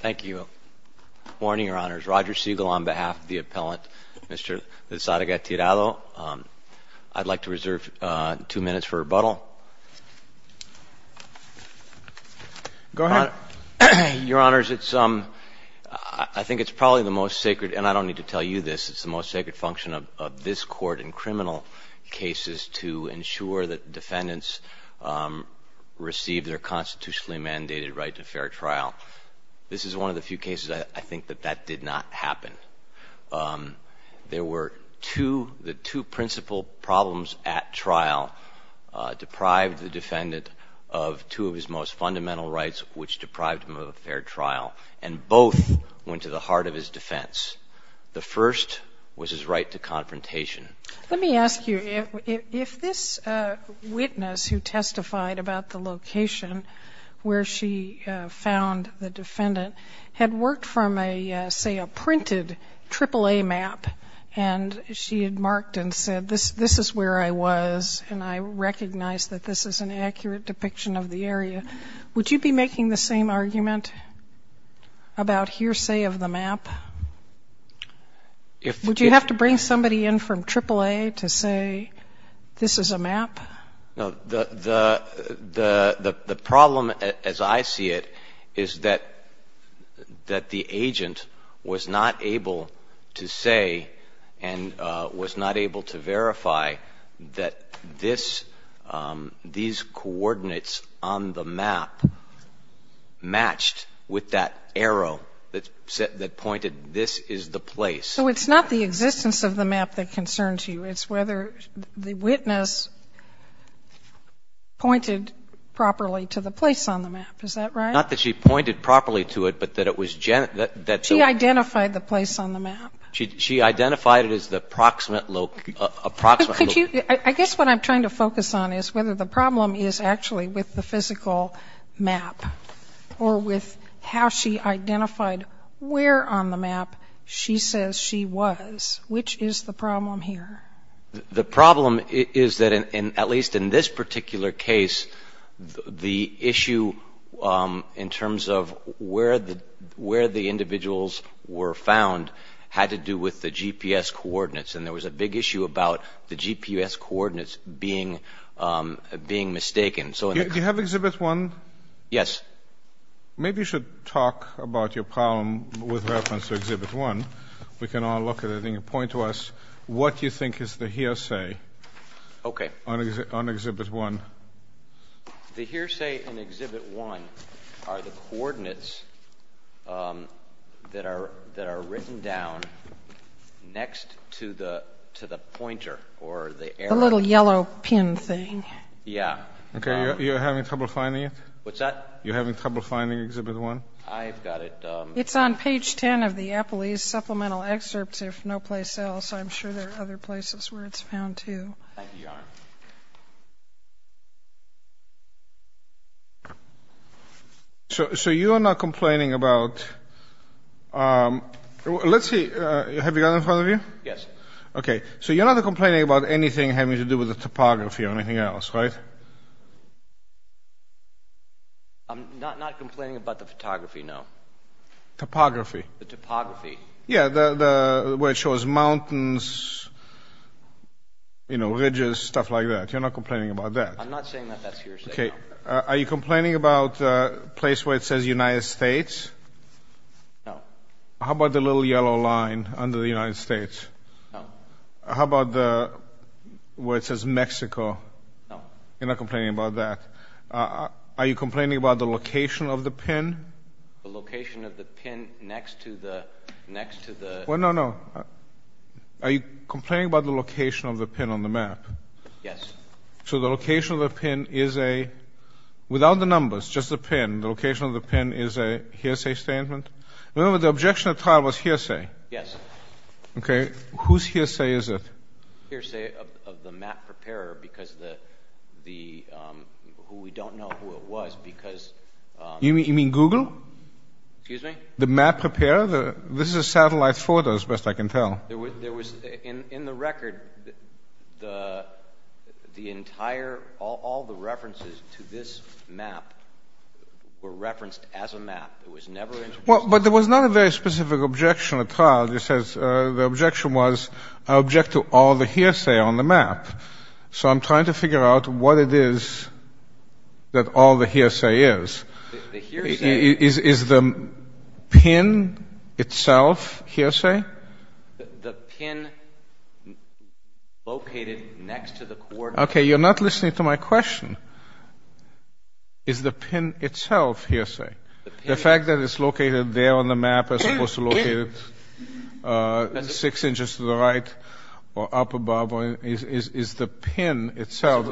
Thank you. Good morning, Your Honors. Roger Siegel on behalf of the appellant, Mr. Lizarraga-Tirado. I'd like to reserve two minutes for rebuttal. Go ahead. Your Honors, it's, I think it's probably the most sacred, and I don't need to tell you this, it's the most sacred function of this Court in criminal cases to ensure that defendants receive their constitutionally mandated right to fair trial. This is one of the few cases I think that that did not happen. There were two, the two principal problems at trial deprived the defendant of two of his most fundamental rights, which deprived him of a fair trial, and both went to the heart of his defense. The first was his right to confrontation. Let me ask you, if this witness who testified about the location where she found the defendant had worked from a, say, a printed AAA map, and she had marked and said this is where I was, and I recognize that this is an accurate depiction of the area, would you be making the same argument about hearsay of the map? Would you have to bring somebody in from AAA to say this is a map? No. The problem as I see it is that the agent was not able to say and was not able to verify that these coordinates on the map matched with that arrow that pointed this is the place. So it's not the existence of the map that concerns you. It's whether the witness pointed properly to the place on the map. Is that right? Not that she pointed properly to it, but that it was that the one. She identified the place on the map. She identified it as the approximate location. I guess what I'm trying to focus on is whether the problem is actually with the physical map or with how she identified where on the map she says she was. Which is the problem here? The problem is that, at least in this particular case, the issue in terms of where the individuals were found had to do with the GPS coordinates, and there was a big issue about the GPS coordinates being mistaken. Do you have Exhibit 1? Yes. Maybe you should talk about your problem with reference to Exhibit 1. We can all look at it and you can point to us what you think is the hearsay on Exhibit 1. The hearsay on Exhibit 1 are the coordinates that are written down next to the pointer or the arrow. The little yellow pin thing. Yeah. Okay, you're having trouble finding it? What's that? You're having trouble finding Exhibit 1? I've got it. It's on page 10 of the Apolese supplemental excerpts, if no place else. I'm sure there are other places where it's found, too. Thank you, Your Honor. So you are not complaining about—let's see, have you got it in front of you? Yes. Okay, so you're not complaining about anything having to do with the topography or anything else, right? I'm not complaining about the photography, no. Topography. The topography. Yeah, where it shows mountains, you know, ridges, stuff like that. You're not complaining about that? I'm not saying that that's hearsay, no. Are you complaining about the place where it says United States? No. How about the little yellow line under the United States? No. How about where it says Mexico? No. You're not complaining about that? Are you complaining about the location of the pin? The location of the pin next to the— No, no, no. Are you complaining about the location of the pin on the map? Yes. So the location of the pin is a—without the numbers, just the pin. The location of the pin is a hearsay statement? Remember, the objection at trial was hearsay. Yes. Okay, whose hearsay is it? Hearsay of the map preparer because the—who we don't know who it was because— You mean Google? Excuse me? The map preparer? This is a satellite photo, as best I can tell. There was—in the record, the entire—all the references to this map were referenced as a map. It was never introduced— Well, but there was not a very specific objection at trial that says—the objection was, I object to all the hearsay on the map. So I'm trying to figure out what it is that all the hearsay is. The hearsay— Is the pin itself hearsay? The pin located next to the coordinates— Okay, you're not listening to my question. Is the pin itself hearsay? The fact that it's located there on the map as opposed to located six inches to the right or up above, is the pin itself—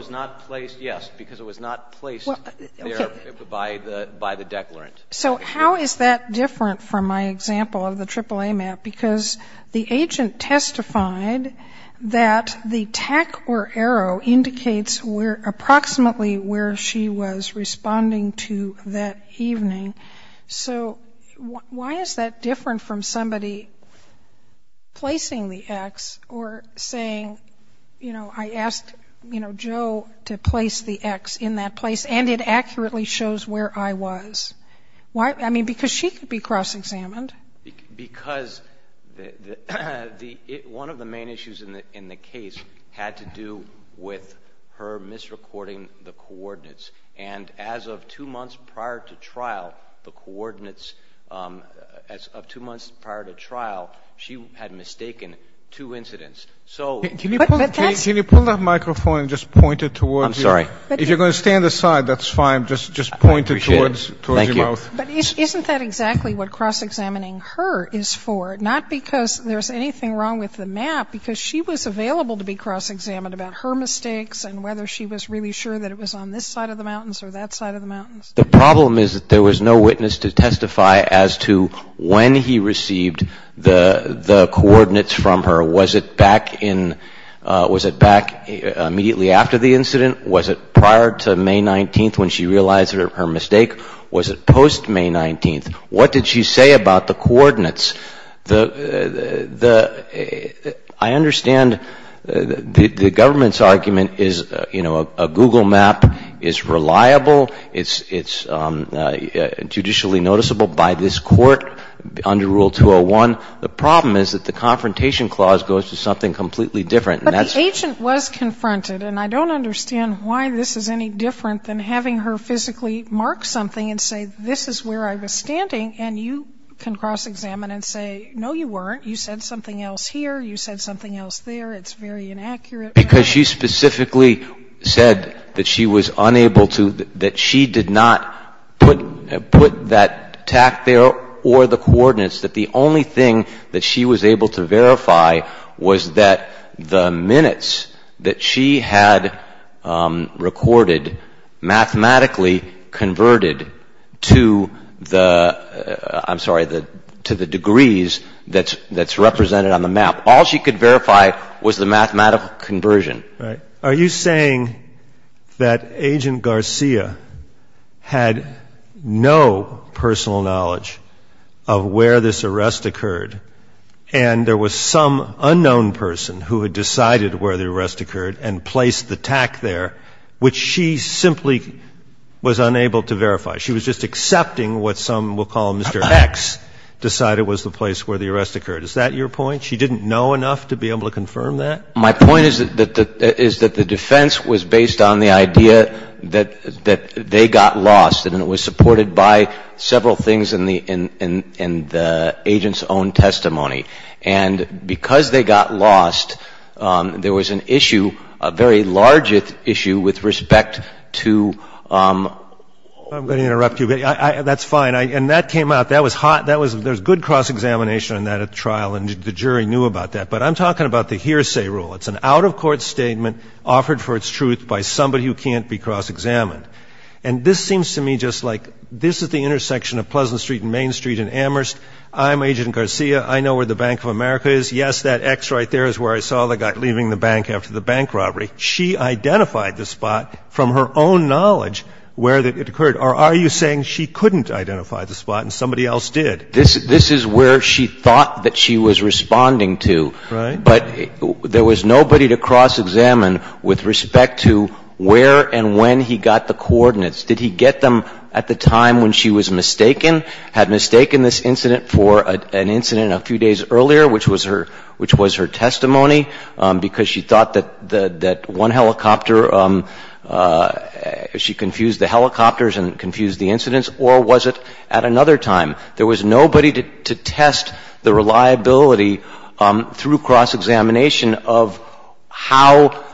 Yes, because it was not placed there by the declarant. So how is that different from my example of the AAA map? Because the agent testified that the tack or arrow indicates approximately where she was responding to that evening. So why is that different from somebody placing the X or saying, you know, I asked Joe to place the X in that place and it accurately shows where I was? I mean, because she could be cross-examined. Because one of the main issues in the case had to do with her misrecording the coordinates. And as of two months prior to trial, the coordinates, as of two months prior to trial, she had mistaken two incidents. So— Can you pull that microphone and just point it towards you? I'm sorry. If you're going to stand aside, that's fine. Just point it towards your mouth. Thank you. But isn't that exactly what cross-examining her is for? Not because there's anything wrong with the map, because she was available to be cross-examined about her mistakes and whether she was really sure that it was on this side of the mountains or that side of the mountains. The problem is that there was no witness to testify as to when he received the coordinates from her. Was it back immediately after the incident? Was it prior to May 19th when she realized her mistake? Was it post-May 19th? What did she say about the coordinates? I understand the government's argument is, you know, a Google map is reliable. It's judicially noticeable by this court under Rule 201. The problem is that the confrontation clause goes to something completely different, and that's— But the agent was confronted, and I don't understand why this is any different than having her physically mark something and say, this is where I was standing, and you can cross-examine and say, no, you weren't. You said something else here. You said something else there. It's very inaccurate. Because she specifically said that she was unable to—that she did not put that tact there or the coordinates, that the only thing that she was able to verify was that the minutes that she had recorded mathematically converted to the— I'm sorry, to the degrees that's represented on the map. All she could verify was the mathematical conversion. Are you saying that Agent Garcia had no personal knowledge of where this arrest occurred, and there was some unknown person who had decided where the arrest occurred and placed the tact there, which she simply was unable to verify? She was just accepting what some will call Mr. X decided was the place where the arrest occurred. Is that your point? She didn't know enough to be able to confirm that? My point is that the defense was based on the idea that they got lost, and it was supported by several things in the agent's own testimony. And because they got lost, there was an issue, a very large issue with respect to— I'm going to interrupt you. That's fine. And that came out. That was hot. There was good cross-examination on that at the trial, and the jury knew about that. But I'm talking about the hearsay rule. It's an out-of-court statement offered for its truth by somebody who can't be cross-examined. And this seems to me just like this is the intersection of Pleasant Street and Main Street in Amherst. I'm Agent Garcia. I know where the Bank of America is. Yes, that X right there is where I saw the guy leaving the bank after the bank robbery. She identified the spot from her own knowledge where it occurred. Or are you saying she couldn't identify the spot and somebody else did? This is where she thought that she was responding to. Right. But there was nobody to cross-examine with respect to where and when he got the coordinates. Did he get them at the time when she was mistaken, had mistaken this incident for an incident a few days earlier, which was her testimony, because she thought that one helicopter, she confused the helicopters and confused the incidents? Or was it at another time? There was nobody to test the reliability through cross-examination of how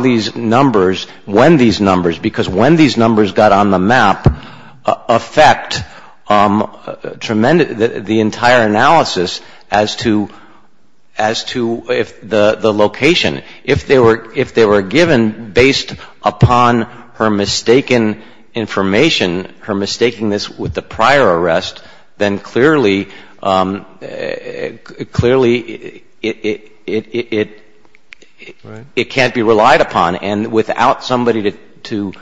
these numbers, when these numbers, because when these numbers got on the map, affect tremendous the entire analysis as to if the location, if they were given based upon her mistaken information, her mistaking this with the location. If it was the prior arrest, then clearly it can't be relied upon. And without somebody to,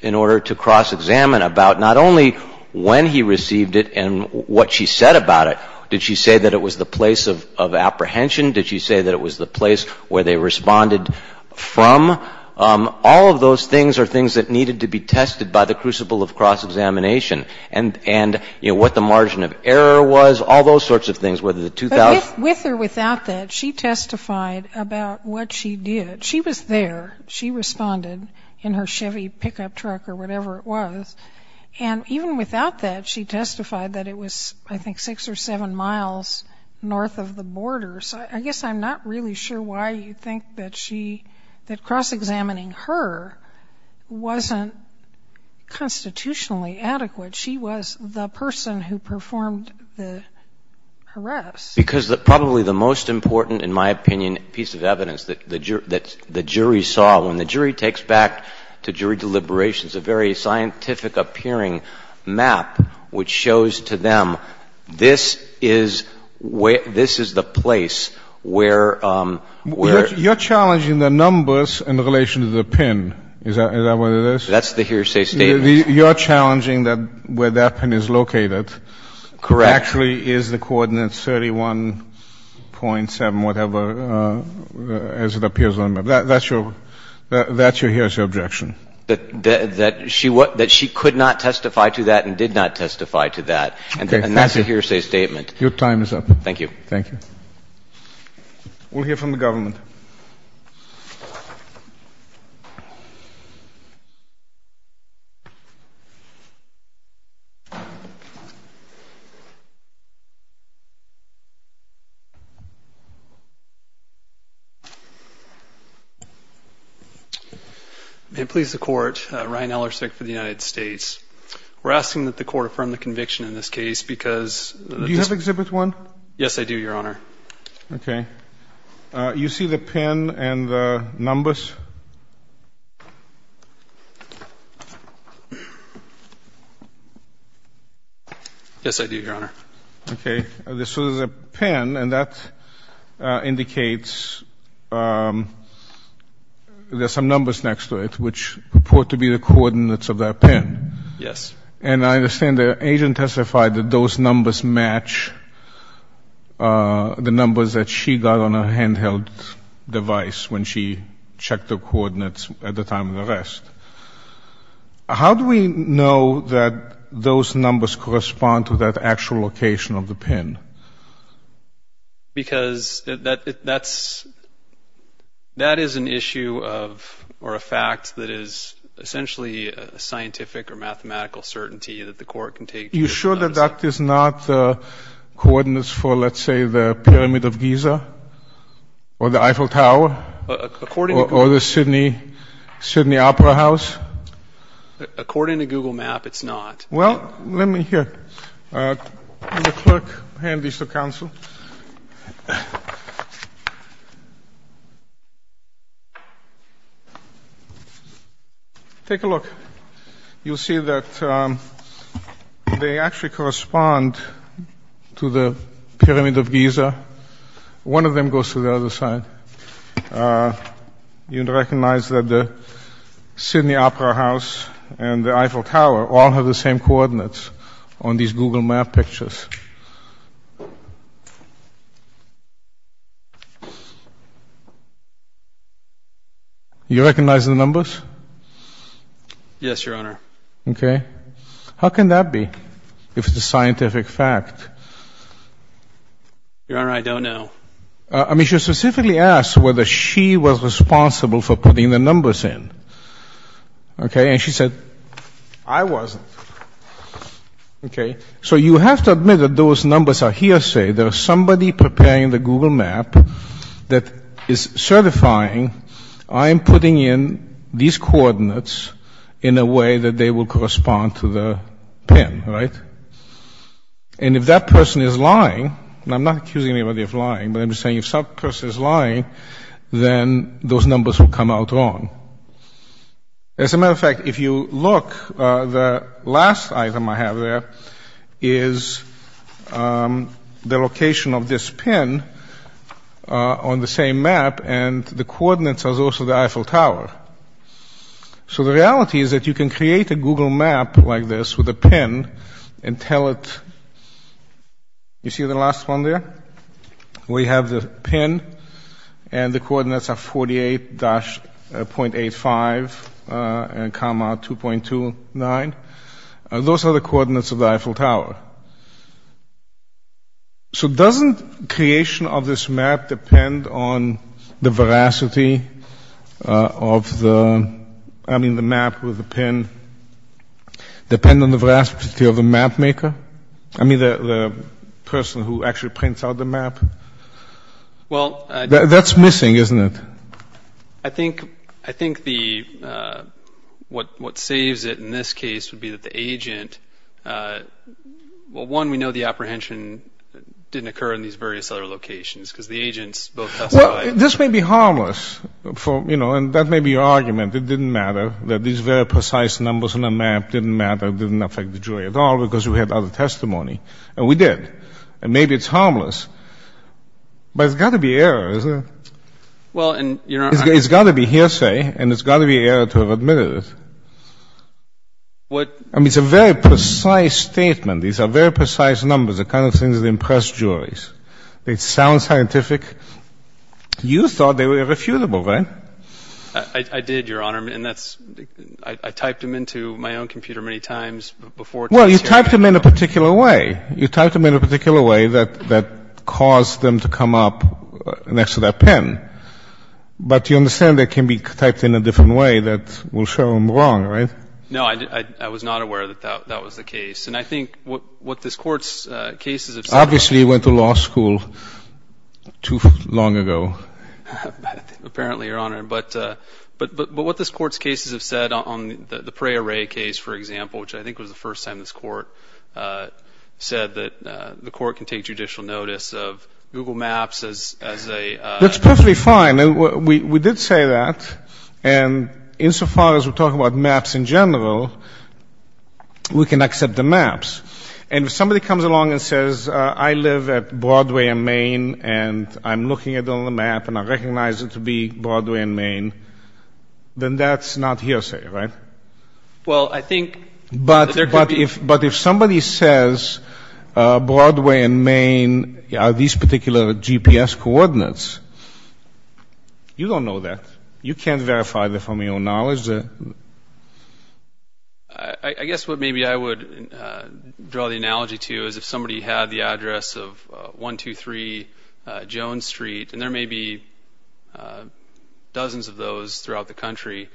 in order to cross-examine about not only when he received it and what she said about it, did she say that it was the place of apprehension? Did she say that it was the place where they responded from? All of those things are things that needed to be tested by the crucible of cross-examination. And, you know, what the margin of error was, all those sorts of things, whether the 2,000. But with or without that, she testified about what she did. She was there. She responded in her Chevy pickup truck or whatever it was. And even without that, she testified that it was, I think, six or seven miles north of the border. So I guess I'm not really sure why you think that she, that cross-examining her wasn't constitutionally adequate. She was the person who performed the arrest. Because probably the most important, in my opinion, piece of evidence that the jury saw, when the jury takes back to jury deliberations, a very scientific appearing map which shows to them this is the place where... You're challenging the numbers in relation to the pin. Is that what it is? That's the hearsay statement. You're challenging that where that pin is located... Correct. ...actually is the coordinates 31.7, whatever, as it appears on the map. That's your hearsay objection. That she could not testify to that and did not testify to that. And that's a hearsay statement. Your time is up. Thank you. Thank you. We'll hear from the government. May it please the Court, Ryan Ellersick for the United States. We're asking that the Court affirm the conviction in this case because... Do you have Exhibit 1? Yes, I do, Your Honor. Okay. You see the pin and the numbers? Yes, I do, Your Honor. Okay. This was a pin, and that indicates there's some numbers next to it which report to be the coordinates of that pin. Yes. And I understand the agent testified that those numbers match the numbers that she got on a handheld device when she checked the coordinates at the time of the arrest. How do we know that those numbers correspond to that actual location of the pin? Because that's — that is an issue of — or a fact that is essentially a scientific or mathematical certainty that the Court can take to its own. Are you sure that that is not coordinates for, let's say, the Pyramid of Giza or the Eiffel Tower? According to — Or the Sydney Opera House? According to Google Map, it's not. Well, let me hear. The clerk hand these to counsel. Take a look. You'll see that they actually correspond to the Pyramid of Giza. One of them goes to the other side. You'd recognize that the Sydney Opera House and the Eiffel Tower all have the same coordinates on these Google Map pictures. You recognize the numbers? Yes, Your Honor. Okay. How can that be, if it's a scientific fact? Your Honor, I don't know. I mean, she specifically asked whether she was responsible for putting the numbers in. Okay? And she said, I wasn't. Okay? So you have to admit that those numbers are hearsay. There is somebody preparing the Google Map that is certifying, I am putting in these coordinates in a way that they will correspond to the pin, right? And if that person is lying — and I'm not accusing anybody of lying, but I'm just saying if some person is lying, then those numbers will come out wrong. As a matter of fact, if you look, the last item I have there is the location of this pin on the same map, and the coordinates are those of the Eiffel Tower. So the reality is that you can create a Google Map like this with a pin and tell it — you see the last one there? We have the pin, and the coordinates are 48-.85 comma 2.29. Those are the coordinates of the Eiffel Tower. So doesn't creation of this map depend on the veracity of the — I mean, the map with the pin depend on the veracity of the mapmaker? I mean, the person who actually prints out the map? Well — That's missing, isn't it? I think the — what saves it in this case would be that the agent — well, one, we know the apprehension didn't occur in these various other locations because the agents both testified — Well, this may be harmless, you know, and that may be your argument. It didn't matter that these very precise numbers on the map didn't matter, didn't affect the jury at all because we had other testimony. And we did. And maybe it's harmless. But it's got to be error, isn't it? Well, and — It's got to be hearsay, and it's got to be error to have admitted it. What — I mean, it's a very precise statement. These are very precise numbers, the kind of things that impress juries. They sound scientific. You thought they were irrefutable, right? I did, Your Honor. I typed them into my own computer many times before testifying. Well, you typed them in a particular way. You typed them in a particular way that caused them to come up next to that pen. But you understand they can be typed in a different way that will show them wrong, right? No, I was not aware that that was the case. And I think what this Court's cases have said — Obviously, you went to law school too long ago. Apparently, Your Honor. But what this Court's cases have said on the Prey Array case, for example, which I think was the first time this Court said that the Court can take judicial notice of Google Maps as a — That's perfectly fine. We did say that. And insofar as we're talking about maps in general, we can accept the maps. And if somebody comes along and says, I live at Broadway and Main, and I'm looking at it on the map, and I recognize it to be Broadway and Main, then that's not hearsay, right? Well, I think there could be — But if somebody says Broadway and Main are these particular GPS coordinates, you don't know that. You can't verify that from your own knowledge. I guess what maybe I would draw the analogy to is if somebody had the address of 123 Jones Street, and there may be dozens of those throughout the country,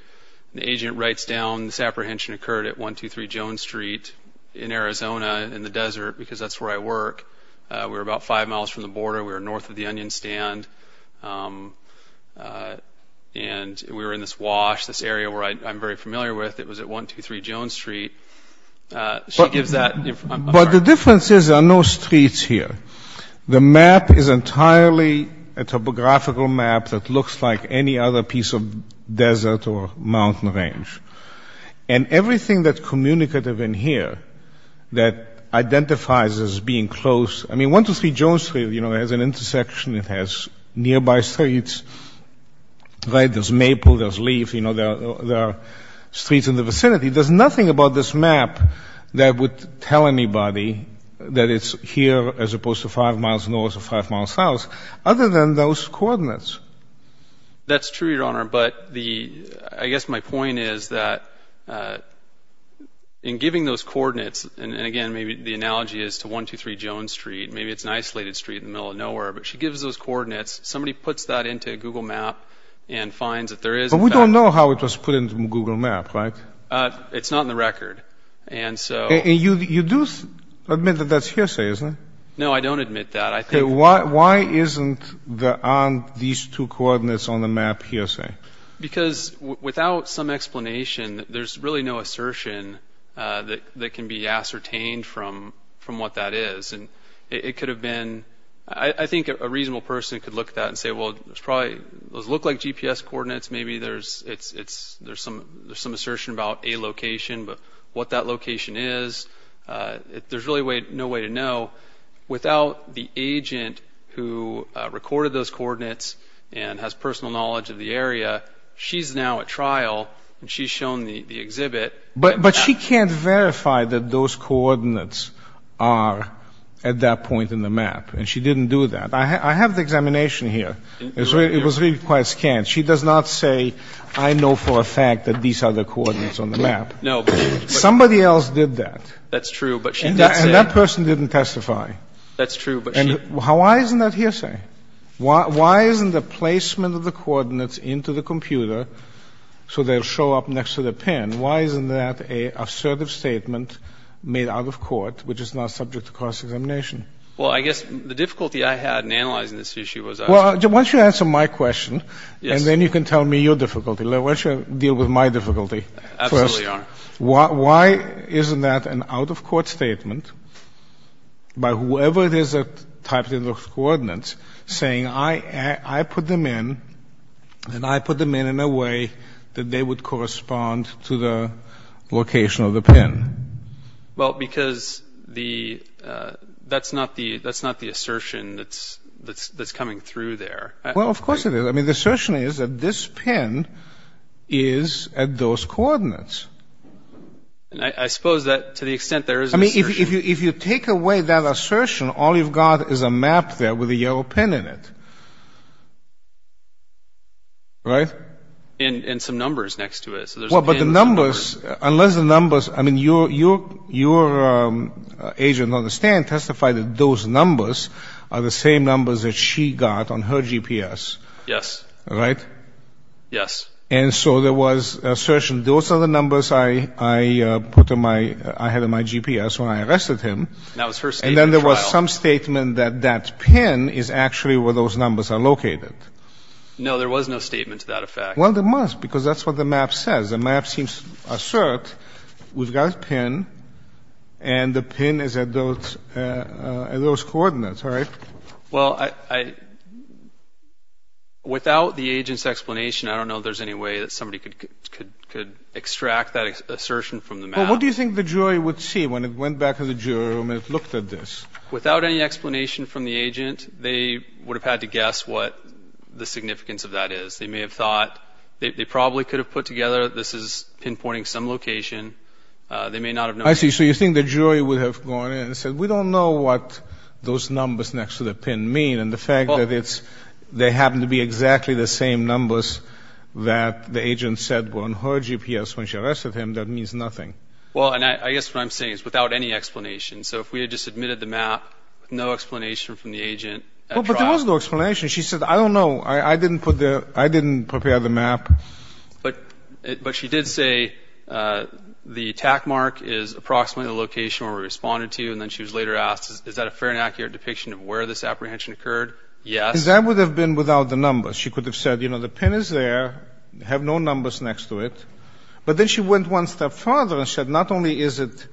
and the agent writes down, this apprehension occurred at 123 Jones Street in Arizona in the desert, because that's where I work. We're about five miles from the border. We're north of the Onion Stand. And we were in this wash, this area where I'm very familiar with. It was at 123 Jones Street. She gives that — But the difference is there are no streets here. The map is entirely a topographical map that looks like any other piece of desert or mountain range. And everything that's communicative in here that identifies as being close — I mean, 123 Jones Street has an intersection. It has nearby streets. There's maple. There's leaf. There are streets in the vicinity. There's nothing about this map that would tell anybody that it's here as opposed to five miles north or five miles south other than those coordinates. That's true, Your Honor. But I guess my point is that in giving those coordinates — and, again, maybe the analogy is to 123 Jones Street. Maybe it's an isolated street in the middle of nowhere. But she gives those coordinates. Somebody puts that into a Google map and finds that there is — But we don't know how it was put into a Google map, right? It's not in the record. And so — And you do admit that that's hearsay, isn't it? No, I don't admit that. Why aren't these two coordinates on the map hearsay? Because without some explanation, there's really no assertion that can be ascertained from what that is. And it could have been — I think a reasonable person could look at that and say, well, those look like GPS coordinates. Maybe there's some assertion about a location, but what that location is, there's really no way to know. Without the agent who recorded those coordinates and has personal knowledge of the area, she's now at trial. And she's shown the exhibit. But she can't verify that those coordinates are at that point in the map. And she didn't do that. I have the examination here. It was really quite scant. She does not say, I know for a fact that these are the coordinates on the map. No, but — Somebody else did that. That's true, but she did say — And that person didn't testify. That's true, but she — And why isn't that hearsay? Why isn't the placement of the coordinates into the computer so they'll show up next to the pin, why isn't that an assertive statement made out of court, which is not subject to cross-examination? Well, I guess the difficulty I had in analyzing this issue was — Well, why don't you answer my question, and then you can tell me your difficulty. Why don't you deal with my difficulty first? Absolutely, Your Honor. Why isn't that an out-of-court statement by whoever it is that typed in those coordinates saying, I put them in, and I put them in in a way that they would correspond to the location of the pin? Well, because the — that's not the assertion that's coming through there. Well, of course it is. I mean, the assertion is that this pin is at those coordinates. And I suppose that to the extent there is an assertion — I mean, if you take away that assertion, all you've got is a map there with a yellow pin in it. Right? And some numbers next to it, so there's a pin — Well, but the numbers — unless the numbers — I mean, your agent on the stand testified that those numbers are the same numbers that she got on her GPS. Yes. Right? Yes. And so there was an assertion, those are the numbers I put on my — I had on my GPS when I arrested him. And that was her statement at trial. And then there was some statement that that pin is actually where those numbers are located. No, there was no statement to that effect. Well, there must, because that's what the map says. The map seems assert. We've got a pin, and the pin is at those coordinates, right? Well, I — without the agent's explanation, I don't know if there's any way that somebody could extract that assertion from the map. Well, what do you think the jury would see when it went back to the jury room and it looked at this? Without any explanation from the agent, they would have had to guess what the significance of that is. They may have thought — they probably could have put together this is pinpointing some location. They may not have known — And the fact that it's — they happen to be exactly the same numbers that the agent said were on her GPS when she arrested him, that means nothing. Well, and I guess what I'm saying is without any explanation. So if we had just admitted the map with no explanation from the agent at trial — Well, but there was no explanation. She said, I don't know. I didn't put the — I didn't prepare the map. But she did say the attack mark is approximately the location where we responded to you. And then she was later asked, is that a fair and accurate depiction of where this apprehension occurred? Yes. Because that would have been without the numbers. She could have said, you know, the pin is there, have no numbers next to it. But then she went one step farther and said, not only is it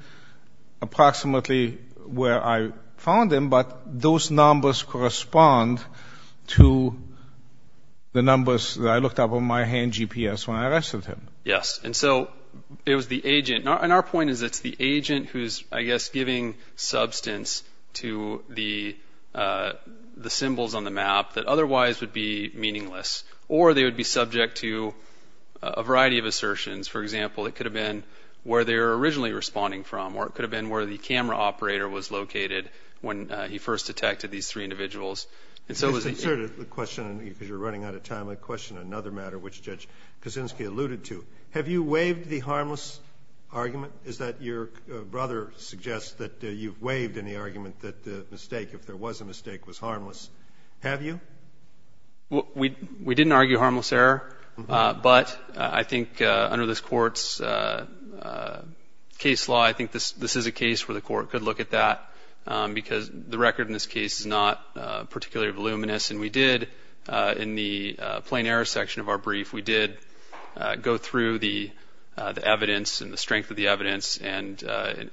approximately where I found him, but those numbers correspond to the numbers that I looked up on my hand GPS when I arrested him. Yes. And so it was the agent. And our point is it's the agent who's, I guess, giving substance to the symbols on the map that otherwise would be meaningless. Or they would be subject to a variety of assertions. For example, it could have been where they were originally responding from, or it could have been where the camera operator was located when he first detected these three individuals. And so it was — Just to answer the question, because you're running out of time, I'm going to question another matter, which Judge Kosinski alluded to. Have you waived the harmless argument? Is that your brother suggests that you've waived any argument that the mistake, if there was a mistake, was harmless? Have you? We didn't argue harmless error. But I think under this Court's case law, I think this is a case where the Court could look at that, because the record in this case is not particularly voluminous. And we did, in the plain error section of our brief, we did go through the evidence and the strength of the evidence. And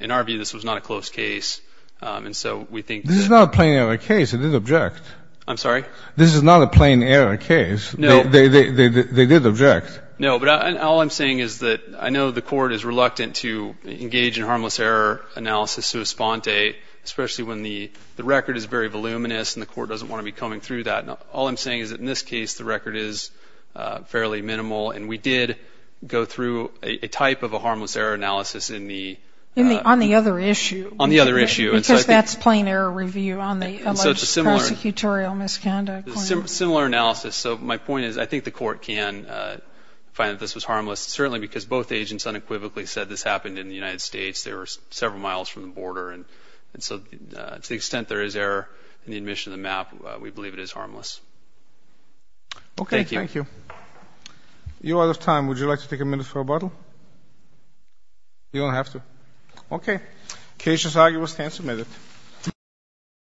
in our view, this was not a close case. And so we think — This is not a plain error case. It is an object. I'm sorry? This is not a plain error case. No. They did object. No. But all I'm saying is that I know the Court is reluctant to engage in harmless error analysis to a sponte, especially when the record is very voluminous and the Court doesn't want to be combing through that. All I'm saying is that in this case, the record is fairly minimal. And we did go through a type of a harmless error analysis in the — On the other issue. On the other issue. Because that's plain error review on the alleged prosecutorial misconduct claim. Similar analysis. So my point is, I think the Court can find that this was harmless, certainly because both agents unequivocally said this happened in the United States. They were several miles from the border. And so to the extent there is error in the admission of the map, we believe it is harmless. Okay. Thank you. You are out of time. Would you like to take a minute for rebuttal? You don't have to. Okay. Case is argued. We'll stand submitted.